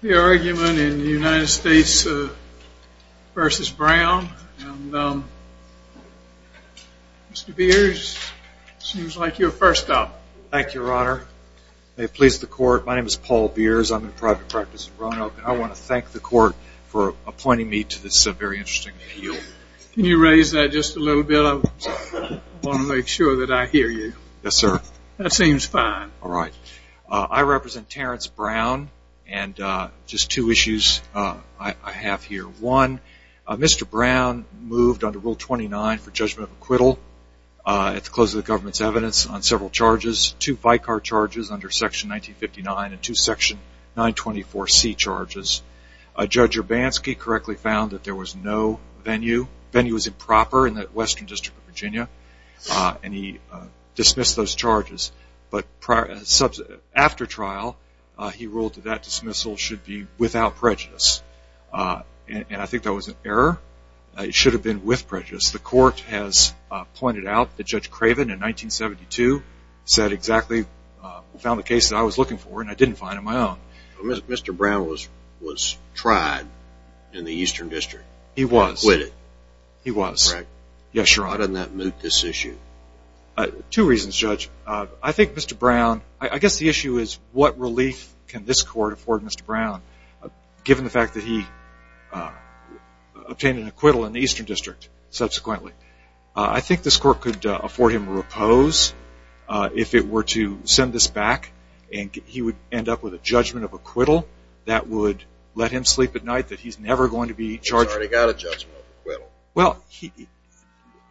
The argument in the United States v. Brown. Mr. Beers, it seems like you're first up. Thank you, Your Honor. May it please the Court, my name is Paul Beers. I'm in private practice in Roanoke. I want to thank the Court for appointing me to this very interesting appeal. Can you raise that just a little bit? I want to make sure that I hear you. Yes, sir. That seems fine. All right. I represent Terrance Brown, and just two issues I have here. One, Mr. Brown moved under Rule 29 for judgment of acquittal at the close of the government's evidence on several charges, two FICAR charges under Section 1959 and two Section 924C charges. Judge Urbanski correctly found that there was no venue. Venue was improper in the Western District of Virginia, and he dismissed those charges. But after trial, he ruled that that dismissal should be without prejudice. And I think that was an error. It should have been with prejudice. The Court has pointed out that Judge Craven in 1972 said exactly, found the case that I was looking for, and I didn't find it my own. Mr. Brown was tried in the Eastern District. He was. And acquitted. He was. Correct. Yes, Your Honor. Why didn't that moot this issue? Two reasons, Judge. I think Mr. Brown, I guess the issue is what relief can this Court afford Mr. Brown, given the fact that he obtained an acquittal in the Eastern District subsequently? I think this Court could afford him a repose if it were to send this back, and he would end up with a judgment of acquittal that would let him sleep at night, that he's never going to be charged. He's already got a judgment of acquittal. Well,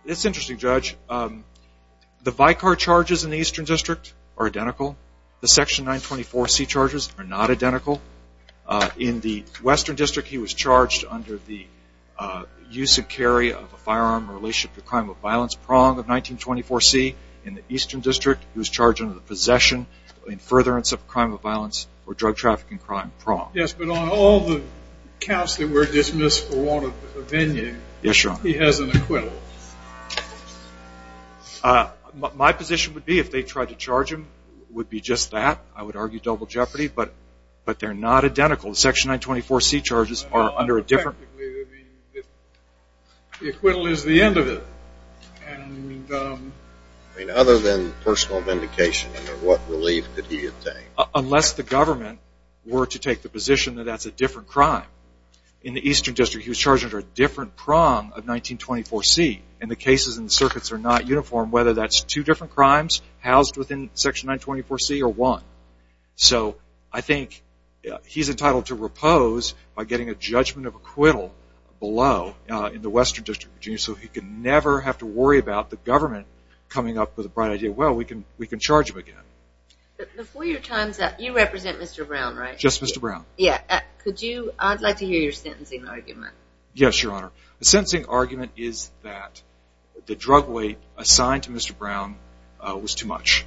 it's interesting, Judge. The Vicar charges in the Eastern District are identical. The Section 924C charges are not identical. In the Western District, he was charged under the use and carry of a firearm in relationship to a crime of violence, prong of 1924C. In the Eastern District, he was charged under the possession and furtherance of a crime of violence or drug trafficking crime, prong. Yes, but on all the counts that were dismissed for want of opinion, he has an acquittal. My position would be if they tried to charge him, it would be just that. I would argue double jeopardy. But they're not identical. The Section 924C charges are under a different. The acquittal is the end of it. Other than personal vindication, under what relief could he obtain? Unless the government were to take the position that that's a different crime. In the Eastern District, he was charged under a different prong of 1924C. And the cases and circuits are not uniform, whether that's two different crimes housed within Section 924C or one. So I think he's entitled to repose by getting a judgment of acquittal below in the Western District of Virginia so he could never have to worry about the government coming up with a bright idea, well, we can charge him again. Before your time's up, you represent Mr. Brown, right? Just Mr. Brown. Yeah. Could you, I'd like to hear your sentencing argument. Yes, Your Honor. The sentencing argument is that the drug weight assigned to Mr. Brown was too much.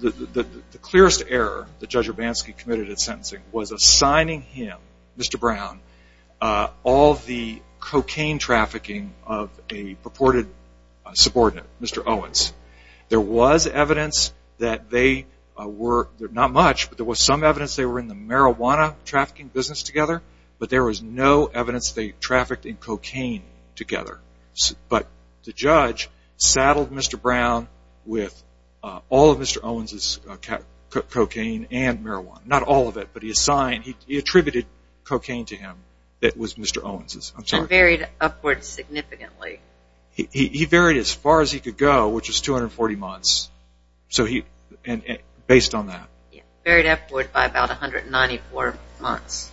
The clearest error that Judge Urbanski committed at sentencing was assigning him, Mr. Brown, all the cocaine trafficking of a purported subordinate, Mr. Owens. There was evidence that they were, not much, but there was some evidence they were in the marijuana trafficking business together, but there was no evidence they trafficked in cocaine together. But the judge saddled Mr. Brown with all of Mr. Owens' cocaine and marijuana. Not all of it, but he assigned, he attributed cocaine to him that was Mr. Owens'. And varied upwards significantly. He varied as far as he could go, which was 240 months, based on that. Varied upward by about 194 months.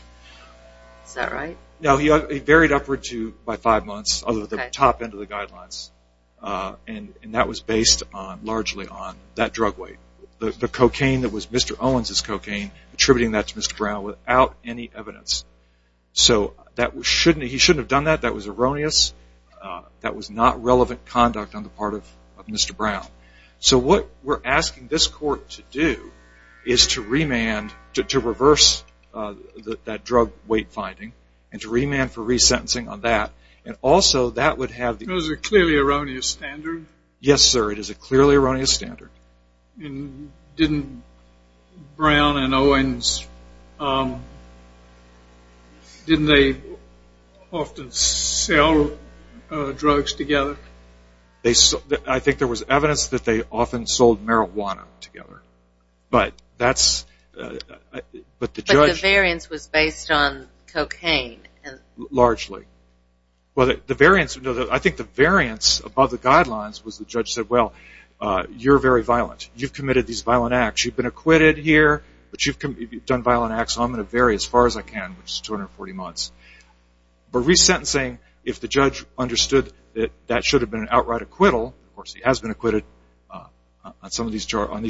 Is that right? No, he varied upward by five months, other than the top end of the guidelines. And that was based largely on that drug weight. The cocaine that was Mr. Owens' cocaine, attributing that to Mr. Brown without any evidence. So he shouldn't have done that, that was erroneous. That was not relevant conduct on the part of Mr. Brown. So what we're asking this court to do is to remand, to reverse that drug weight finding, and to remand for resentencing on that. And also that would have the... It was a clearly erroneous standard? Yes, sir, it is a clearly erroneous standard. And didn't Brown and Owens, didn't they often sell drugs together? I think there was evidence that they often sold marijuana together. But that's... But the variance was based on cocaine? Largely. I think the variance above the guidelines was the judge said, well, you're very violent. You've committed these violent acts. You've been acquitted here, but you've done violent acts, so I'm going to vary as far as I can, which is 240 months. But resentencing, if the judge understood that that should have been an outright acquittal, of course he has been acquitted on these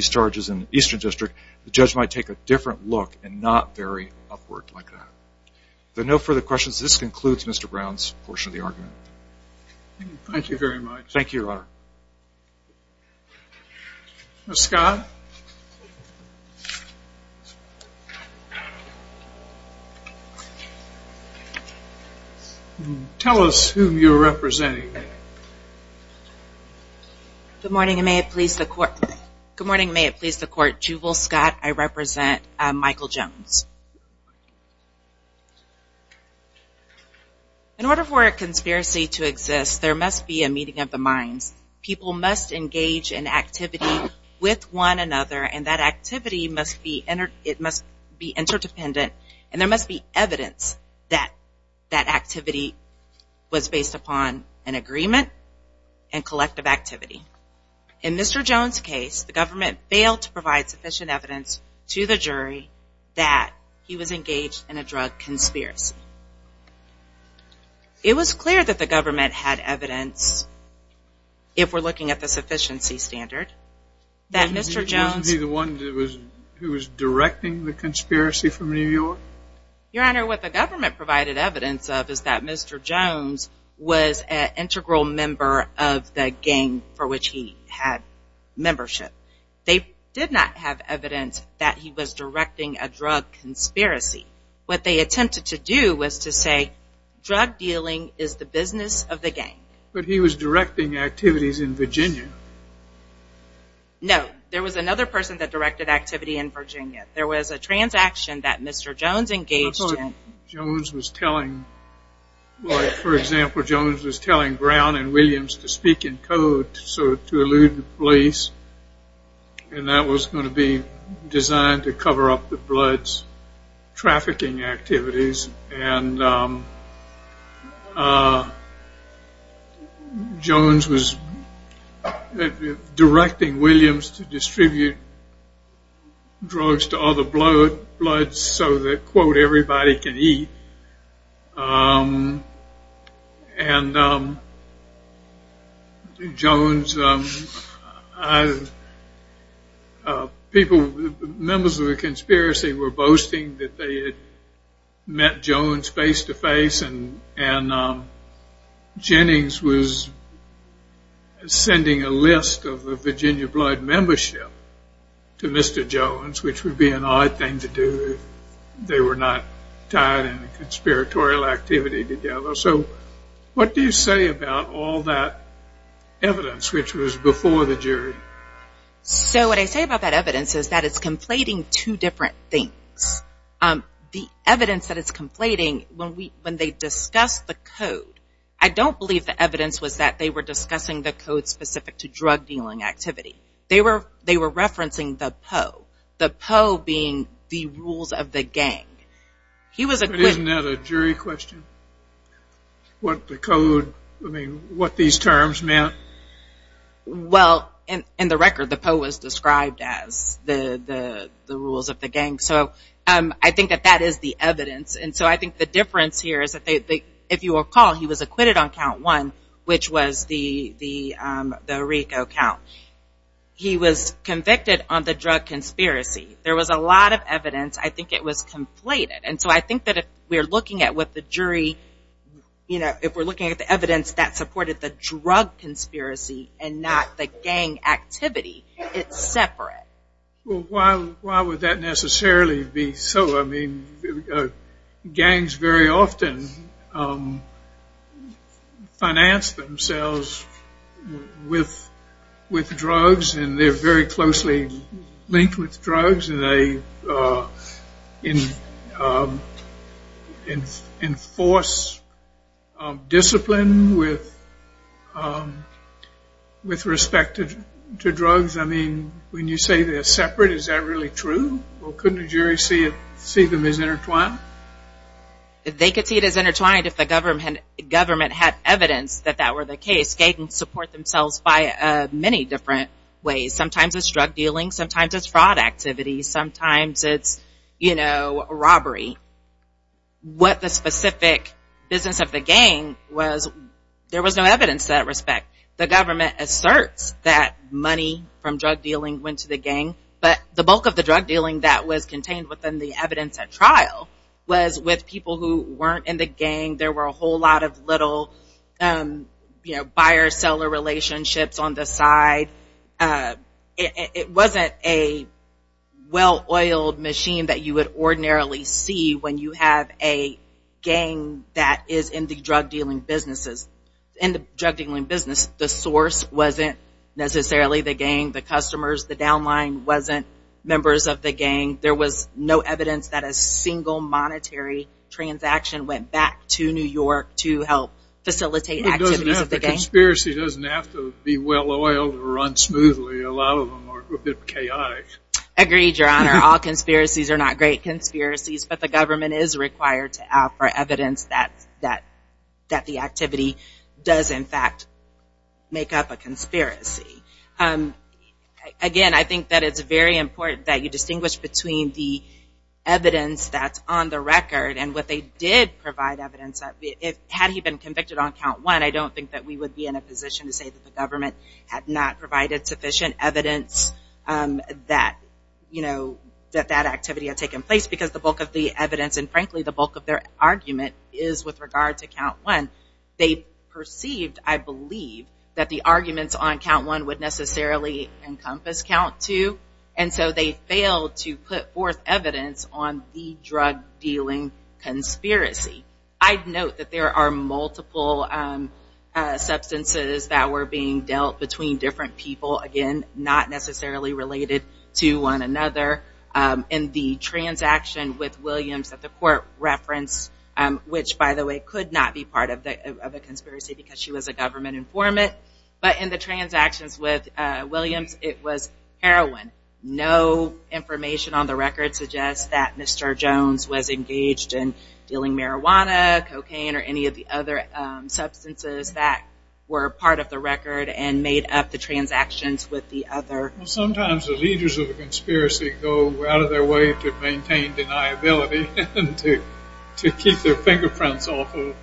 charges in the Eastern District, the judge might take a different look and not vary upward like that. If there are no further questions, this concludes Mr. Brown's portion of the argument. Thank you very much. Thank you, Your Honor. Ms. Scott? Tell us who you're representing. Good morning, and may it please the Court. Good morning, and may it please the Court. Jubal Scott. I represent Michael Jones. In order for a conspiracy to exist, there must be a meeting of the minds. People must engage in activity with one another, and that activity must be interdependent, and there must be evidence that that activity was based upon an agreement and collective activity. In Mr. Jones' case, the government failed to provide sufficient evidence to the jury that he was engaged in a drug conspiracy. It was clear that the government had evidence, if we're looking at the sufficiency standard, that Mr. Jones... Wasn't he the one who was directing the conspiracy from New York? Your Honor, what the government provided evidence of is that Mr. Jones was an integral member of the gang for which he had membership. They did not have evidence that he was directing a drug conspiracy. What they attempted to do was to say, drug dealing is the business of the gang. But he was directing activities in Virginia. No. There was another person that directed activity in Virginia. There was a transaction that Mr. Jones engaged in. I thought Jones was telling, like, for example, Jones was telling Brown and Williams to speak in code to elude the police, and that was going to be designed to cover up the Bloods' trafficking activities, and Jones was directing Williams to distribute drugs to other Bloods so that, quote, everybody can eat. And Jones... Members of the conspiracy were boasting that they had met Jones face-to-face, and Jennings was sending a list of the Virginia Blood membership to Mr. Jones, which would be an odd thing to do if they were not tied in a conspiratorial activity together. So what do you say about all that evidence which was before the jury? So what I say about that evidence is that it's conflating two different things. The evidence that it's conflating, when they discussed the code, I don't believe the evidence was that they were discussing the code specific to drug dealing activity. They were referencing the PO, the PO being the rules of the gang. Isn't that a jury question? What the code, I mean, what these terms meant? Well, in the record, the PO was described as the rules of the gang, so I think that that is the evidence, and so I think the difference here is that, if you recall, he was acquitted on count one, which was the Rico count. He was convicted on the drug conspiracy. There was a lot of evidence. I think it was conflated, and so I think that if we're looking at what the jury, if we're looking at the evidence that supported the drug conspiracy and not the gang activity, it's separate. Well, why would that necessarily be so? I mean, gangs very often finance themselves with drugs, and they're very closely linked with drugs, and they enforce discipline with respect to drugs. I mean, when you say they're separate, is that really true? Well, couldn't a jury see them as intertwined? They could see it as intertwined if the government had evidence that that were the case. Gangs support themselves by many different ways. Sometimes it's drug dealing. Sometimes it's fraud activity. Sometimes it's, you know, robbery. What the specific business of the gang was, there was no evidence to that respect. The government asserts that money from drug dealing went to the gang, but the bulk of the drug dealing that was contained within the evidence at trial was with people who weren't in the gang. There were a whole lot of little, you know, buyer-seller relationships on the side. It wasn't a well-oiled machine that you would ordinarily see when you have a gang that is in the drug dealing business. The source wasn't necessarily the gang, the customers, the downline wasn't members of the gang. There was no evidence that a single monetary transaction went back to New York to help facilitate activities of the gang. A conspiracy doesn't have to be well-oiled or run smoothly. A lot of them are a bit chaotic. Agreed, Your Honor. All conspiracies are not great conspiracies, but the government is required to offer evidence that the activity does, in fact, make up a conspiracy. Again, I think that it's very important that you distinguish between the evidence that's on the record and what they did provide evidence of. Had he been convicted on count one, I don't think that we would be in a position to say that the government had not provided sufficient evidence that that activity had taken place because the bulk of the evidence and, frankly, the bulk of their argument is with regard to count one. They perceived, I believe, that the arguments on count one would necessarily encompass count two, and so they failed to put forth evidence on the drug-dealing conspiracy. I'd note that there are multiple substances that were being dealt between different people, again, not necessarily related to one another. In the transaction with Williams that the court referenced, which, by the way, could not be part of a conspiracy because she was a government informant, but in the transactions with Williams it was heroin. No information on the record suggests that Mr. Jones was engaged in dealing marijuana, cocaine, or any of the other substances that were part of the record and made up the transactions with the other. Sometimes the leaders of the conspiracy go out of their way to maintain their deniability and to keep their fingerprints off of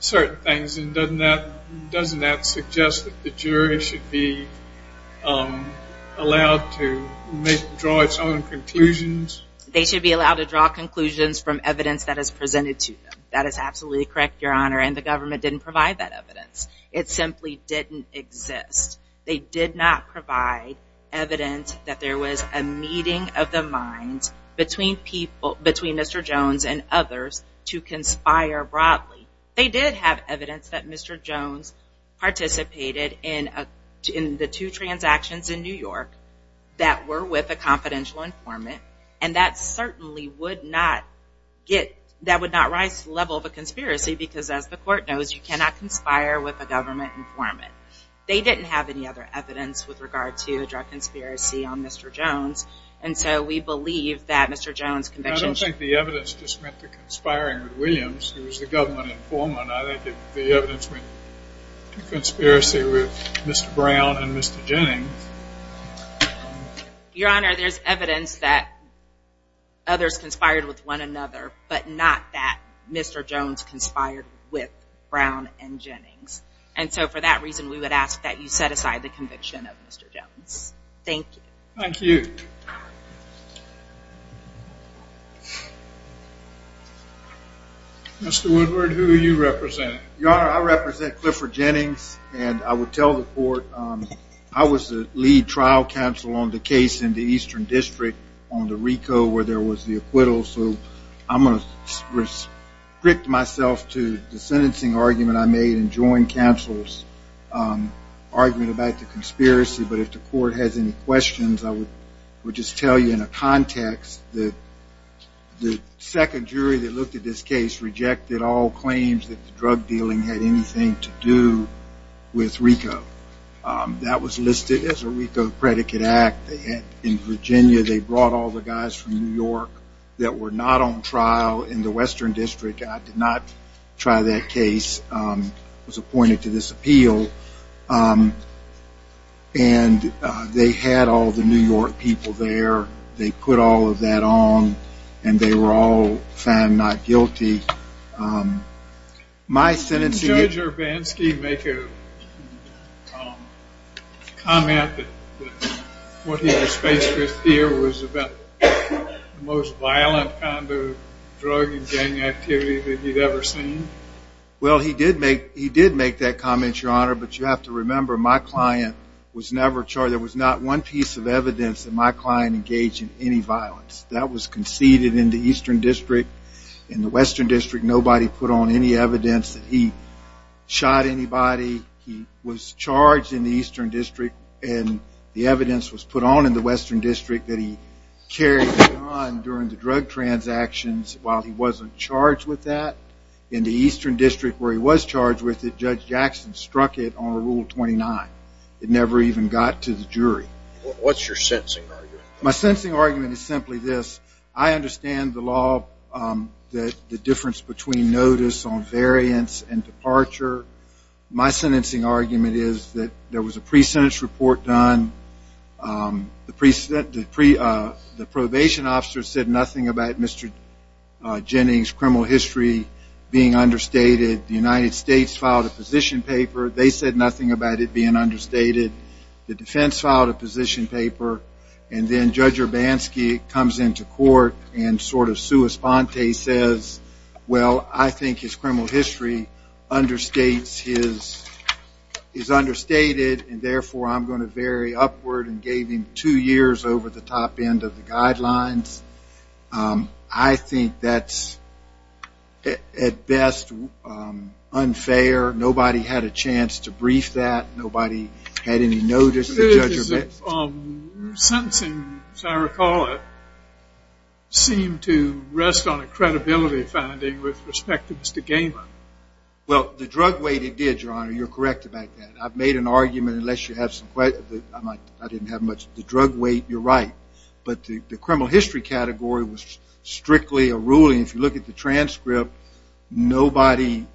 certain things, and doesn't that suggest that the jury should be allowed to draw its own conclusions? They should be allowed to draw conclusions from evidence that is presented to them. That is absolutely correct, Your Honor, and the government didn't provide that evidence. It simply didn't exist. They did not provide evidence that there was a meeting of the minds between Mr. Jones and others to conspire broadly. They did have evidence that Mr. Jones participated in the two transactions in New York that were with a confidential informant, and that certainly would not rise to the level of a conspiracy because, as the court knows, you cannot conspire with a government informant. They didn't have any other evidence with regard to a drug conspiracy on Mr. Jones, and so we believe that Mr. Jones' conviction... I don't think the evidence just meant the conspiring with Williams. It was the government informant. I think the evidence meant a conspiracy with Mr. Brown and Mr. Jennings. Your Honor, there's evidence that others conspired with one another, but not that Mr. Jones conspired with Brown and Jennings, and so for that reason we would ask that you set aside the conviction of Mr. Jones. Thank you. Thank you. Mr. Woodward, who do you represent? Your Honor, I represent Clifford Jennings, and I would tell the court I was the lead trial counsel on the case in the Eastern District on the RICO where there was the acquittal, so I'm going to restrict myself to the sentencing argument I made and join counsel's argument about the conspiracy, but if the court has any questions, I would just tell you in a context that the second jury that looked at this case rejected all claims that the drug dealing had anything to do with RICO. That was listed as a RICO predicate act. In Virginia, they brought all the guys from New York that were not on trial in the Western District. I did not try that case. I was appointed to this appeal, and they had all the New York people there. They put all of that on, and they were all found not guilty. Did Judge Urbanski make a comment that what he was faced with here was about the most violent kind of drug and gang activity that he'd ever seen? Well, he did make that comment, Your Honor, but you have to remember my client was never charged. There was not one piece of evidence that my client engaged in any violence. That was conceded in the Eastern District. In the Western District, nobody put on any evidence that he shot anybody. He was charged in the Eastern District, and the evidence was put on in the Western District that he carried a gun during the drug transactions while he wasn't charged with that. In the Eastern District where he was charged with it, Judge Jackson struck it on Rule 29. It never even got to the jury. What's your sentencing argument? My sentencing argument is simply this. I understand the law, the difference between notice on variance and departure. My sentencing argument is that there was a pre-sentence report done. The probation officer said nothing about Mr. Jennings' criminal history being understated. The United States filed a position paper. They said nothing about it being understated. The defense filed a position paper, and then Judge Urbanski comes into court and sort of sua sponte says, well, I think his criminal history is understated, and therefore I'm going to vary upward and gave him two years over the top end of the guidelines. I think that's at best unfair. Nobody had a chance to brief that. Nobody had any notice of Judge Urbanski. Your sentencing, as I recall it, seemed to rest on a credibility finding with respect to Mr. Gaiman. Well, the drug weight it did, Your Honor. You're correct about that. I've made an argument unless you have some questions. I didn't have much. The drug weight, you're right. But the criminal history category was strictly a ruling. If you look at the transcript, nobody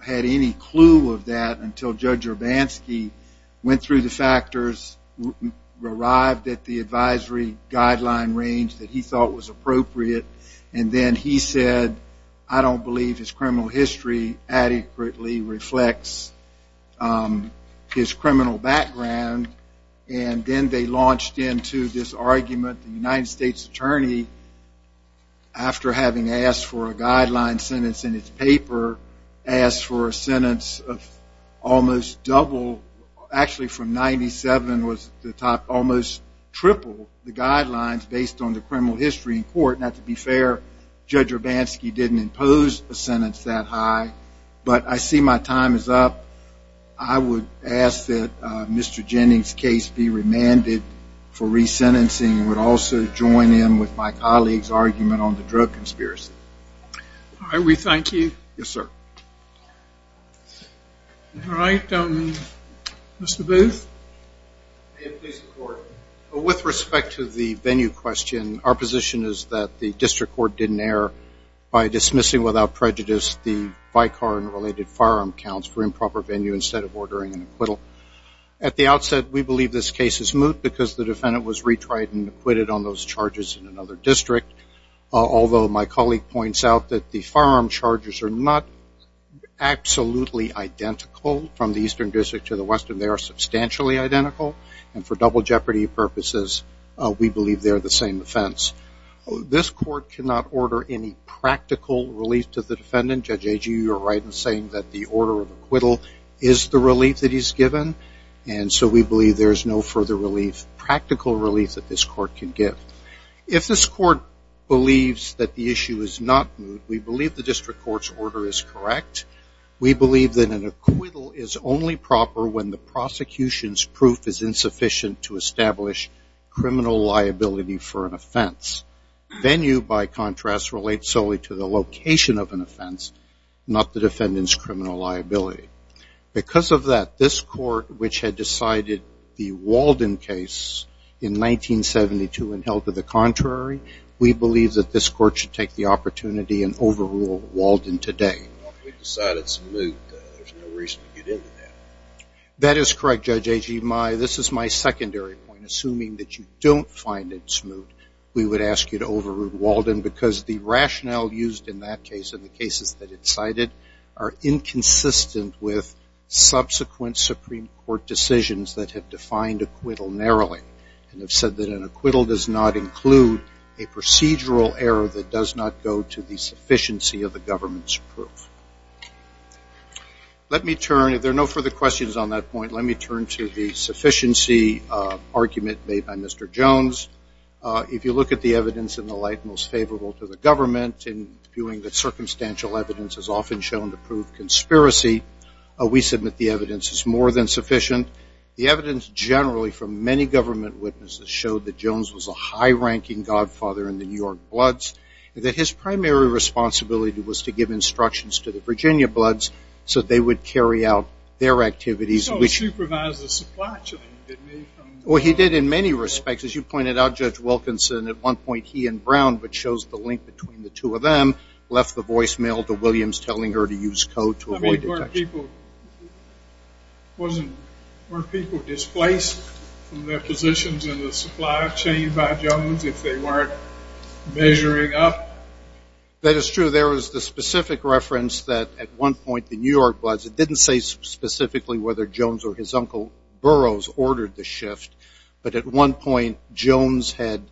had any clue of that until Judge Urbanski went through the factors, arrived at the advisory guideline range that he thought was appropriate, and then he said, I don't believe his criminal history adequately reflects his criminal background, and then they launched into this argument. The United States attorney, after having asked for a guideline sentence in its paper, asked for a sentence of almost double, actually from 97 was the top, almost triple the guidelines based on the criminal history in court. And to be fair, Judge Urbanski didn't impose a sentence that high. But I see my time is up. I would ask that Mr. Jennings' case be remanded for resentencing and would also join in with my colleague's argument on the drug conspiracy. All right. We thank you. Yes, sir. All right. Mr. Booth. With respect to the venue question, our position is that the district court didn't err by dismissing without prejudice the Vicar and related firearm counts for improper venue instead of ordering an acquittal. At the outset, we believe this case is moot because the defendant was retried and acquitted on those charges in another district, although my colleague points out that the firearm charges are not absolutely identical from the eastern district to the western. They are substantially identical. And for double jeopardy purposes, we believe they are the same offense. This court cannot order any practical relief to the defendant. Judge Agee, you are right in saying that the order of acquittal is the relief that he's given. And so we believe there is no further relief, practical relief, that this court can give. If this court believes that the issue is not moot, we believe the district court's order is correct. We believe that an acquittal is only proper when the prosecution's proof is insufficient to establish criminal liability for an offense. Venue, by contrast, relates solely to the location of an offense, not the defendant's criminal liability. Because of that, this court, which had decided the Walden case in 1972 and held to the contrary, we believe that this court should take the opportunity and overrule Walden today. Well, if we decide it's moot, there's no reason to get into that. That is correct, Judge Agee. This is my secondary point. Assuming that you don't find it moot, we would ask you to overrule Walden because the rationale used in that case and the cases that it cited are inconsistent with subsequent Supreme Court decisions that have defined acquittal narrowly and have said that an acquittal does not include a procedural error that does not go to the sufficiency of the government's proof. Let me turn, if there are no further questions on that point, let me turn to the sufficiency argument made by Mr. Jones. If you look at the evidence in the light most favorable to the government, in viewing that circumstantial evidence is often shown to prove conspiracy, we submit the evidence is more than sufficient. The evidence generally from many government witnesses showed that Jones was a high-ranking godfather in the New York Bloods and that his primary responsibility was to give instructions to the Virginia Bloods so that they would carry out their activities. He also supervised the supply chain, didn't he? Well, he did in many respects. As you pointed out, Judge Wilkinson, at one point he and Brown, which shows the link between the two of them, left the voicemail to Williams telling her to use code to avoid detection. I mean, weren't people displaced from their positions in the supply chain by Jones if they weren't measuring up? That is true. There was the specific reference that at one point the New York Bloods, it didn't say specifically whether Jones or his uncle Burroughs ordered the shift, but at one point Jones had,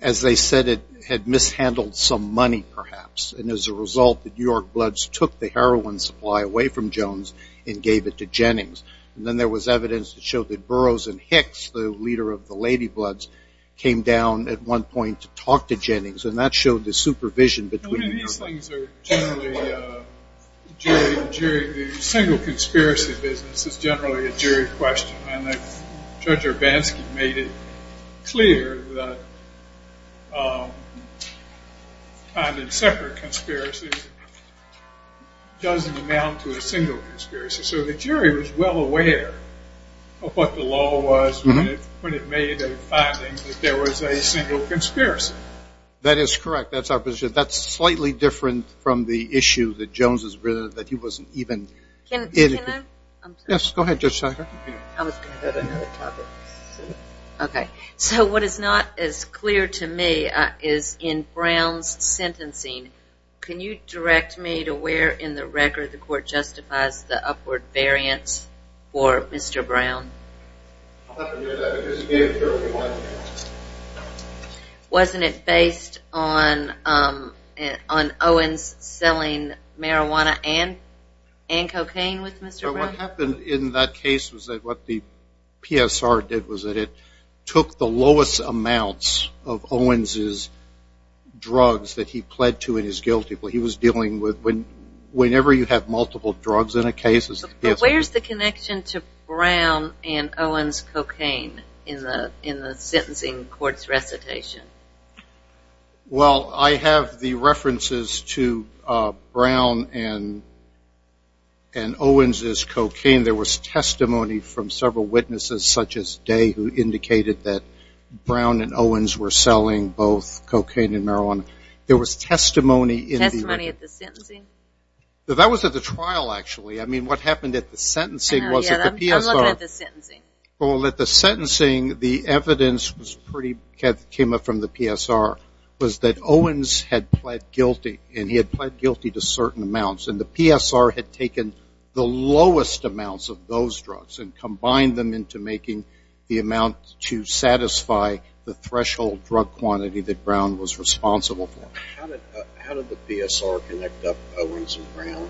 as they said, had mishandled some money perhaps, and as a result the New York Bloods took the heroin supply away from Jones and gave it to Jennings. And then there was evidence that showed that Burroughs and Hicks, the leader of the Lady Bloods, came down at one point to talk to Jennings, and that showed the supervision between the two. The single conspiracy business is generally a jury question, and Judge Urbanski made it clear that finding separate conspiracies doesn't amount to a single conspiracy. So the jury was well aware of what the law was when it made a finding that there was a single conspiracy. That is correct. That's our position. It's very different from the issue that Jones has written that he wasn't even in it. Can I? Yes. Go ahead, Judge Sackler. I was going to go to another topic. Okay. So what is not as clear to me is in Brown's sentencing, can you direct me to where in the record the court justifies the upward variance for Mr. Brown? I'll have to hear that because he gave the jury one. Wasn't it based on Owens selling marijuana and cocaine with Mr. Brown? What happened in that case was that what the PSR did was that it took the lowest amounts of Owens' drugs that he pled to in his guilty plea. He was dealing with whenever you have multiple drugs in a case. But where's the connection to Brown and Owens' cocaine in the sentencing court's recitation? Well, I have the references to Brown and Owens' cocaine. There was testimony from several witnesses such as Day who indicated that Brown and Owens were selling both cocaine and marijuana. There was testimony in the record. Testimony at the sentencing? That was at the trial, actually. I mean, what happened at the sentencing was that the PSR. I'm looking at the sentencing. Well, at the sentencing, the evidence came up from the PSR was that Owens had pled guilty, and he had pled guilty to certain amounts. And the PSR had taken the lowest amounts of those drugs and combined them into making the amount to satisfy the threshold drug quantity that Brown was responsible for. How did the PSR connect up Owens and Brown?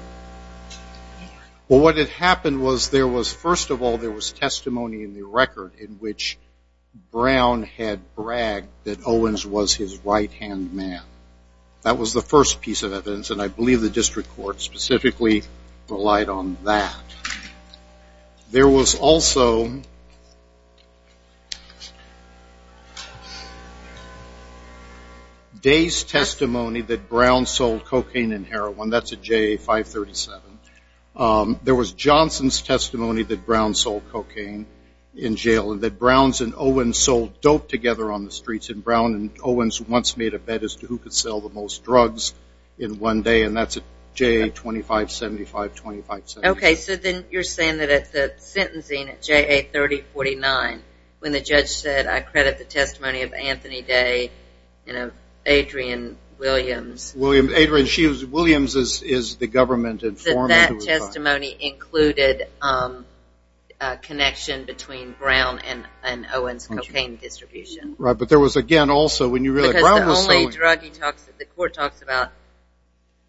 Well, what had happened was there was, first of all, there was testimony in the record in which Brown had bragged that Owens was his right-hand man. That was the first piece of evidence, and I believe the district court specifically relied on that. There was also Day's testimony that Brown sold cocaine and heroin. That's at JA 537. There was Johnson's testimony that Brown sold cocaine in jail, and that Browns and Owens sold dope together on the streets, and Brown and Owens once made a bet as to who could sell the most drugs in one day, and that's at JA 2575, 2578. Okay. So then you're saying that at the sentencing at JA 3049, when the judge said, I credit the testimony of Anthony Day and of Adrienne Williams. Adrienne Williams is the government informant. So that testimony included a connection between Brown and Owens' cocaine distribution. But there was, again, also when you read that Brown was selling. Because the only drug the court talks about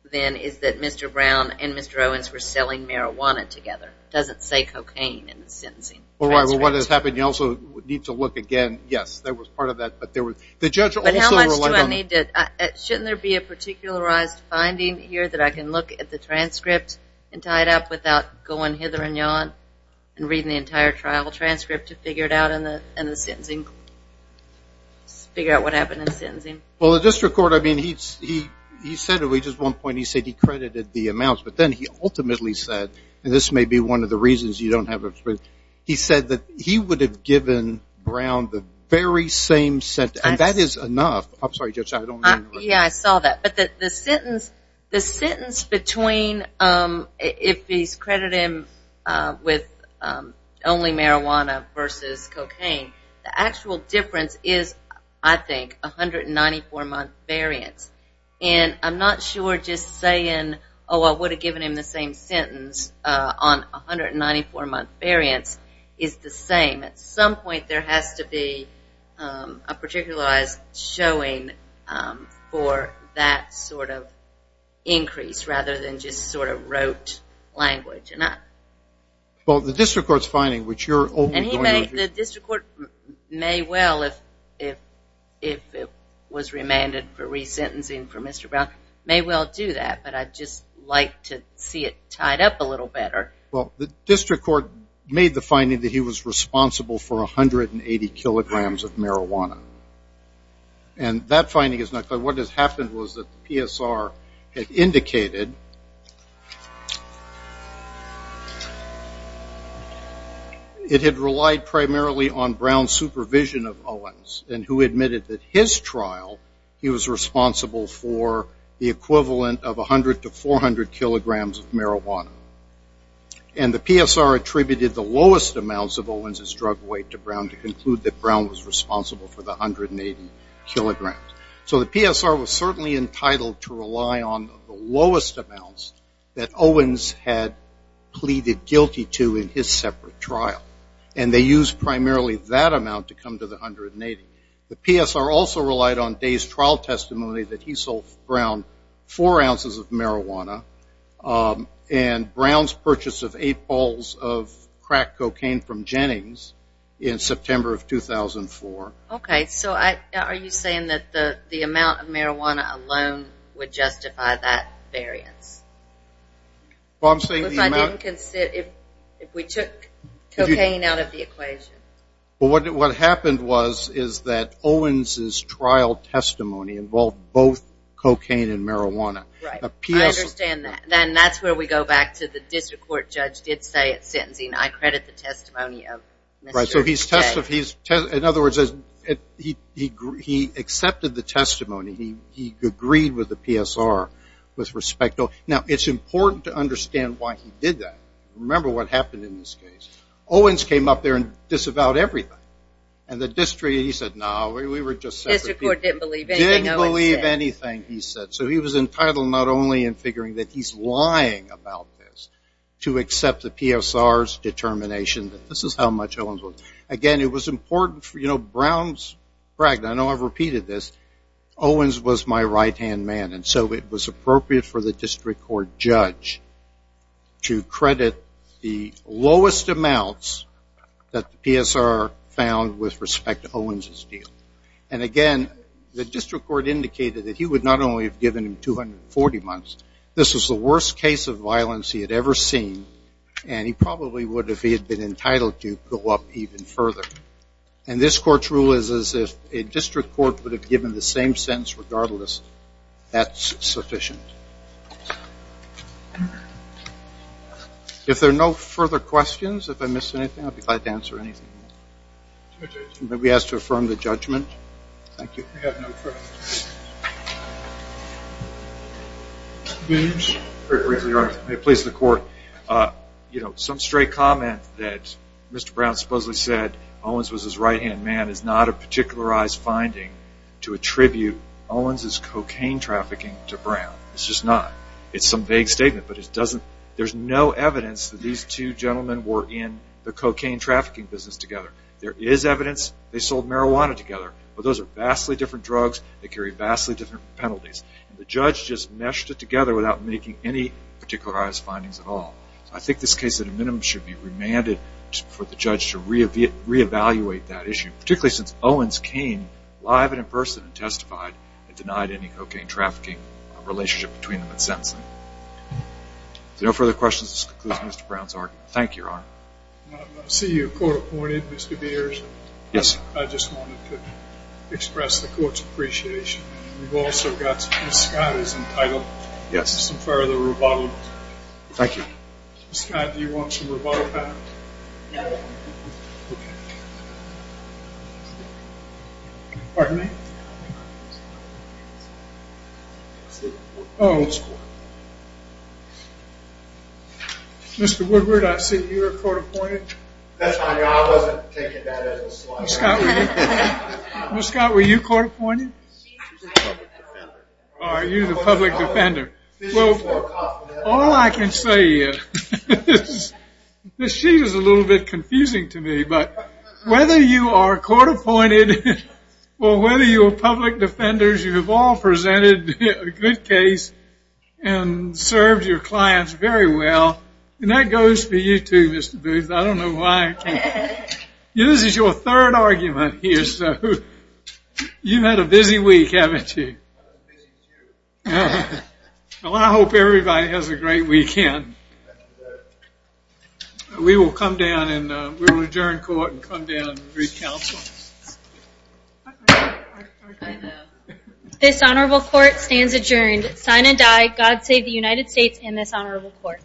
then is that Mr. Brown and Mr. Owens were selling marijuana together. It doesn't say cocaine in the sentencing. All right. Well, what has happened, you also need to look again. Yes, there was part of that, but there was. The judge also relied on. But how much do I need to. Shouldn't there be a particularized finding here that I can look at the transcript and tie it up without going hither and yon and reading the entire trial transcript to figure it out in the sentencing, figure out what happened in the sentencing? Well, the district court, I mean, he said at one point, he said he credited the amounts. But then he ultimately said, and this may be one of the reasons you don't have it, but he said that he would have given Brown the very same sentence. And that is enough. I'm sorry, Judge, I don't mean to interrupt. Yeah, I saw that. But the sentence between if he's credited him with only marijuana versus cocaine, the actual difference is, I think, 194-month variance. And I'm not sure just saying, oh, I would have given him the same sentence on 194-month variance is the same. At some point there has to be a particularized showing for that sort of increase rather than just sort of rote language. Well, the district court's finding, which you're openly going to. The district court may well, if it was remanded for resentencing for Mr. Brown, may well do that. But I'd just like to see it tied up a little better. Well, the district court made the finding that he was responsible for 180 kilograms of marijuana. And that finding is not clear. What has happened was that the PSR had indicated that it had relied primarily on Brown's supervision of Owens and who admitted that his trial, he was responsible for the equivalent of 100 to 400 kilograms of marijuana. And the PSR attributed the lowest amounts of Owens' drug weight to Brown to conclude that Brown was responsible for the 180 kilograms. So the PSR was certainly entitled to rely on the lowest amounts that Owens had pleaded guilty to in his separate trial. And they used primarily that amount to come to the 180. The PSR also relied on Day's trial testimony that he sold Brown four ounces of marijuana and Brown's purchase of eight balls of crack cocaine from Jennings in September of 2004. Okay. So are you saying that the amount of marijuana alone would justify that variance? Well, I'm saying the amount. If we took cocaine out of the equation. Well, what happened was is that Owens' trial testimony involved both cocaine and marijuana. Right. I understand that. And that's where we go back to the district court judge did say at sentencing, I credit the testimony of Mr. Day. In other words, he accepted the testimony. He agreed with the PSR with respect. Now, it's important to understand why he did that. Remember what happened in this case. Owens came up there and disavowed everything. And the district, he said, no, we were just separate people. District court didn't believe anything Owens said. Didn't believe anything he said. So he was entitled not only in figuring that he's lying about this to accept the PSR's determination that this is how much Owens was. Again, it was important for, you know, Brown's, I know I've repeated this. Owens was my right-hand man. And so it was appropriate for the district court judge to credit the lowest amounts that the PSR found with respect to Owens' deal. And, again, the district court indicated that he would not only have given him 240 months. This was the worst case of violence he had ever seen. And he probably would if he had been entitled to go up even further. And this court's rule is as if a district court would have given the same sentence regardless. That's sufficient. If there are no further questions, if I missed anything, I'll be glad to answer anything. We ask to affirm the judgment. Thank you. We have no further questions. Very briefly, Your Honor. May it please the court. You know, some straight comment that Mr. Brown supposedly said Owens was his right-hand man is not a particularized finding to attribute Owens' cocaine trafficking to Brown. It's just not. It's some vague statement. But there's no evidence that these two gentlemen were in the cocaine trafficking business together. There is evidence they sold marijuana together. But those are vastly different drugs. They carry vastly different penalties. And the judge just meshed it together without making any particularized findings at all. I think this case, at a minimum, should be remanded for the judge to reevaluate that issue, particularly since Owens came live and in person and testified and denied any cocaine trafficking relationship between them and sentencing. If there are no further questions, this concludes Mr. Brown's argument. Thank you, Your Honor. I see you're court appointed, Mr. Beers. Yes. I just wanted to express the court's appreciation. We've also got Mr. Scott is entitled to some further rebuttal. Thank you. Mr. Scott, do you want some rebuttal time? No. Okay. Pardon me? Oh. Mr. Woodward, I see you're court appointed. That's fine. I wasn't taking that as a slide. Mr. Scott, were you court appointed? I'm the public defender. Are you the public defender? All I can say is this sheet is a little bit confusing to me. But whether you are court appointed or whether you are public defenders, you have all presented a good case and served your clients very well. And that goes for you too, Mr. Booth. I don't know why. This is your third argument here, so you've had a busy week, haven't you? Well, I hope everybody has a great weekend. We will come down and we will adjourn court and come down and recounsel. This honorable court stands adjourned. Sign and die. God save the United States and this honorable court.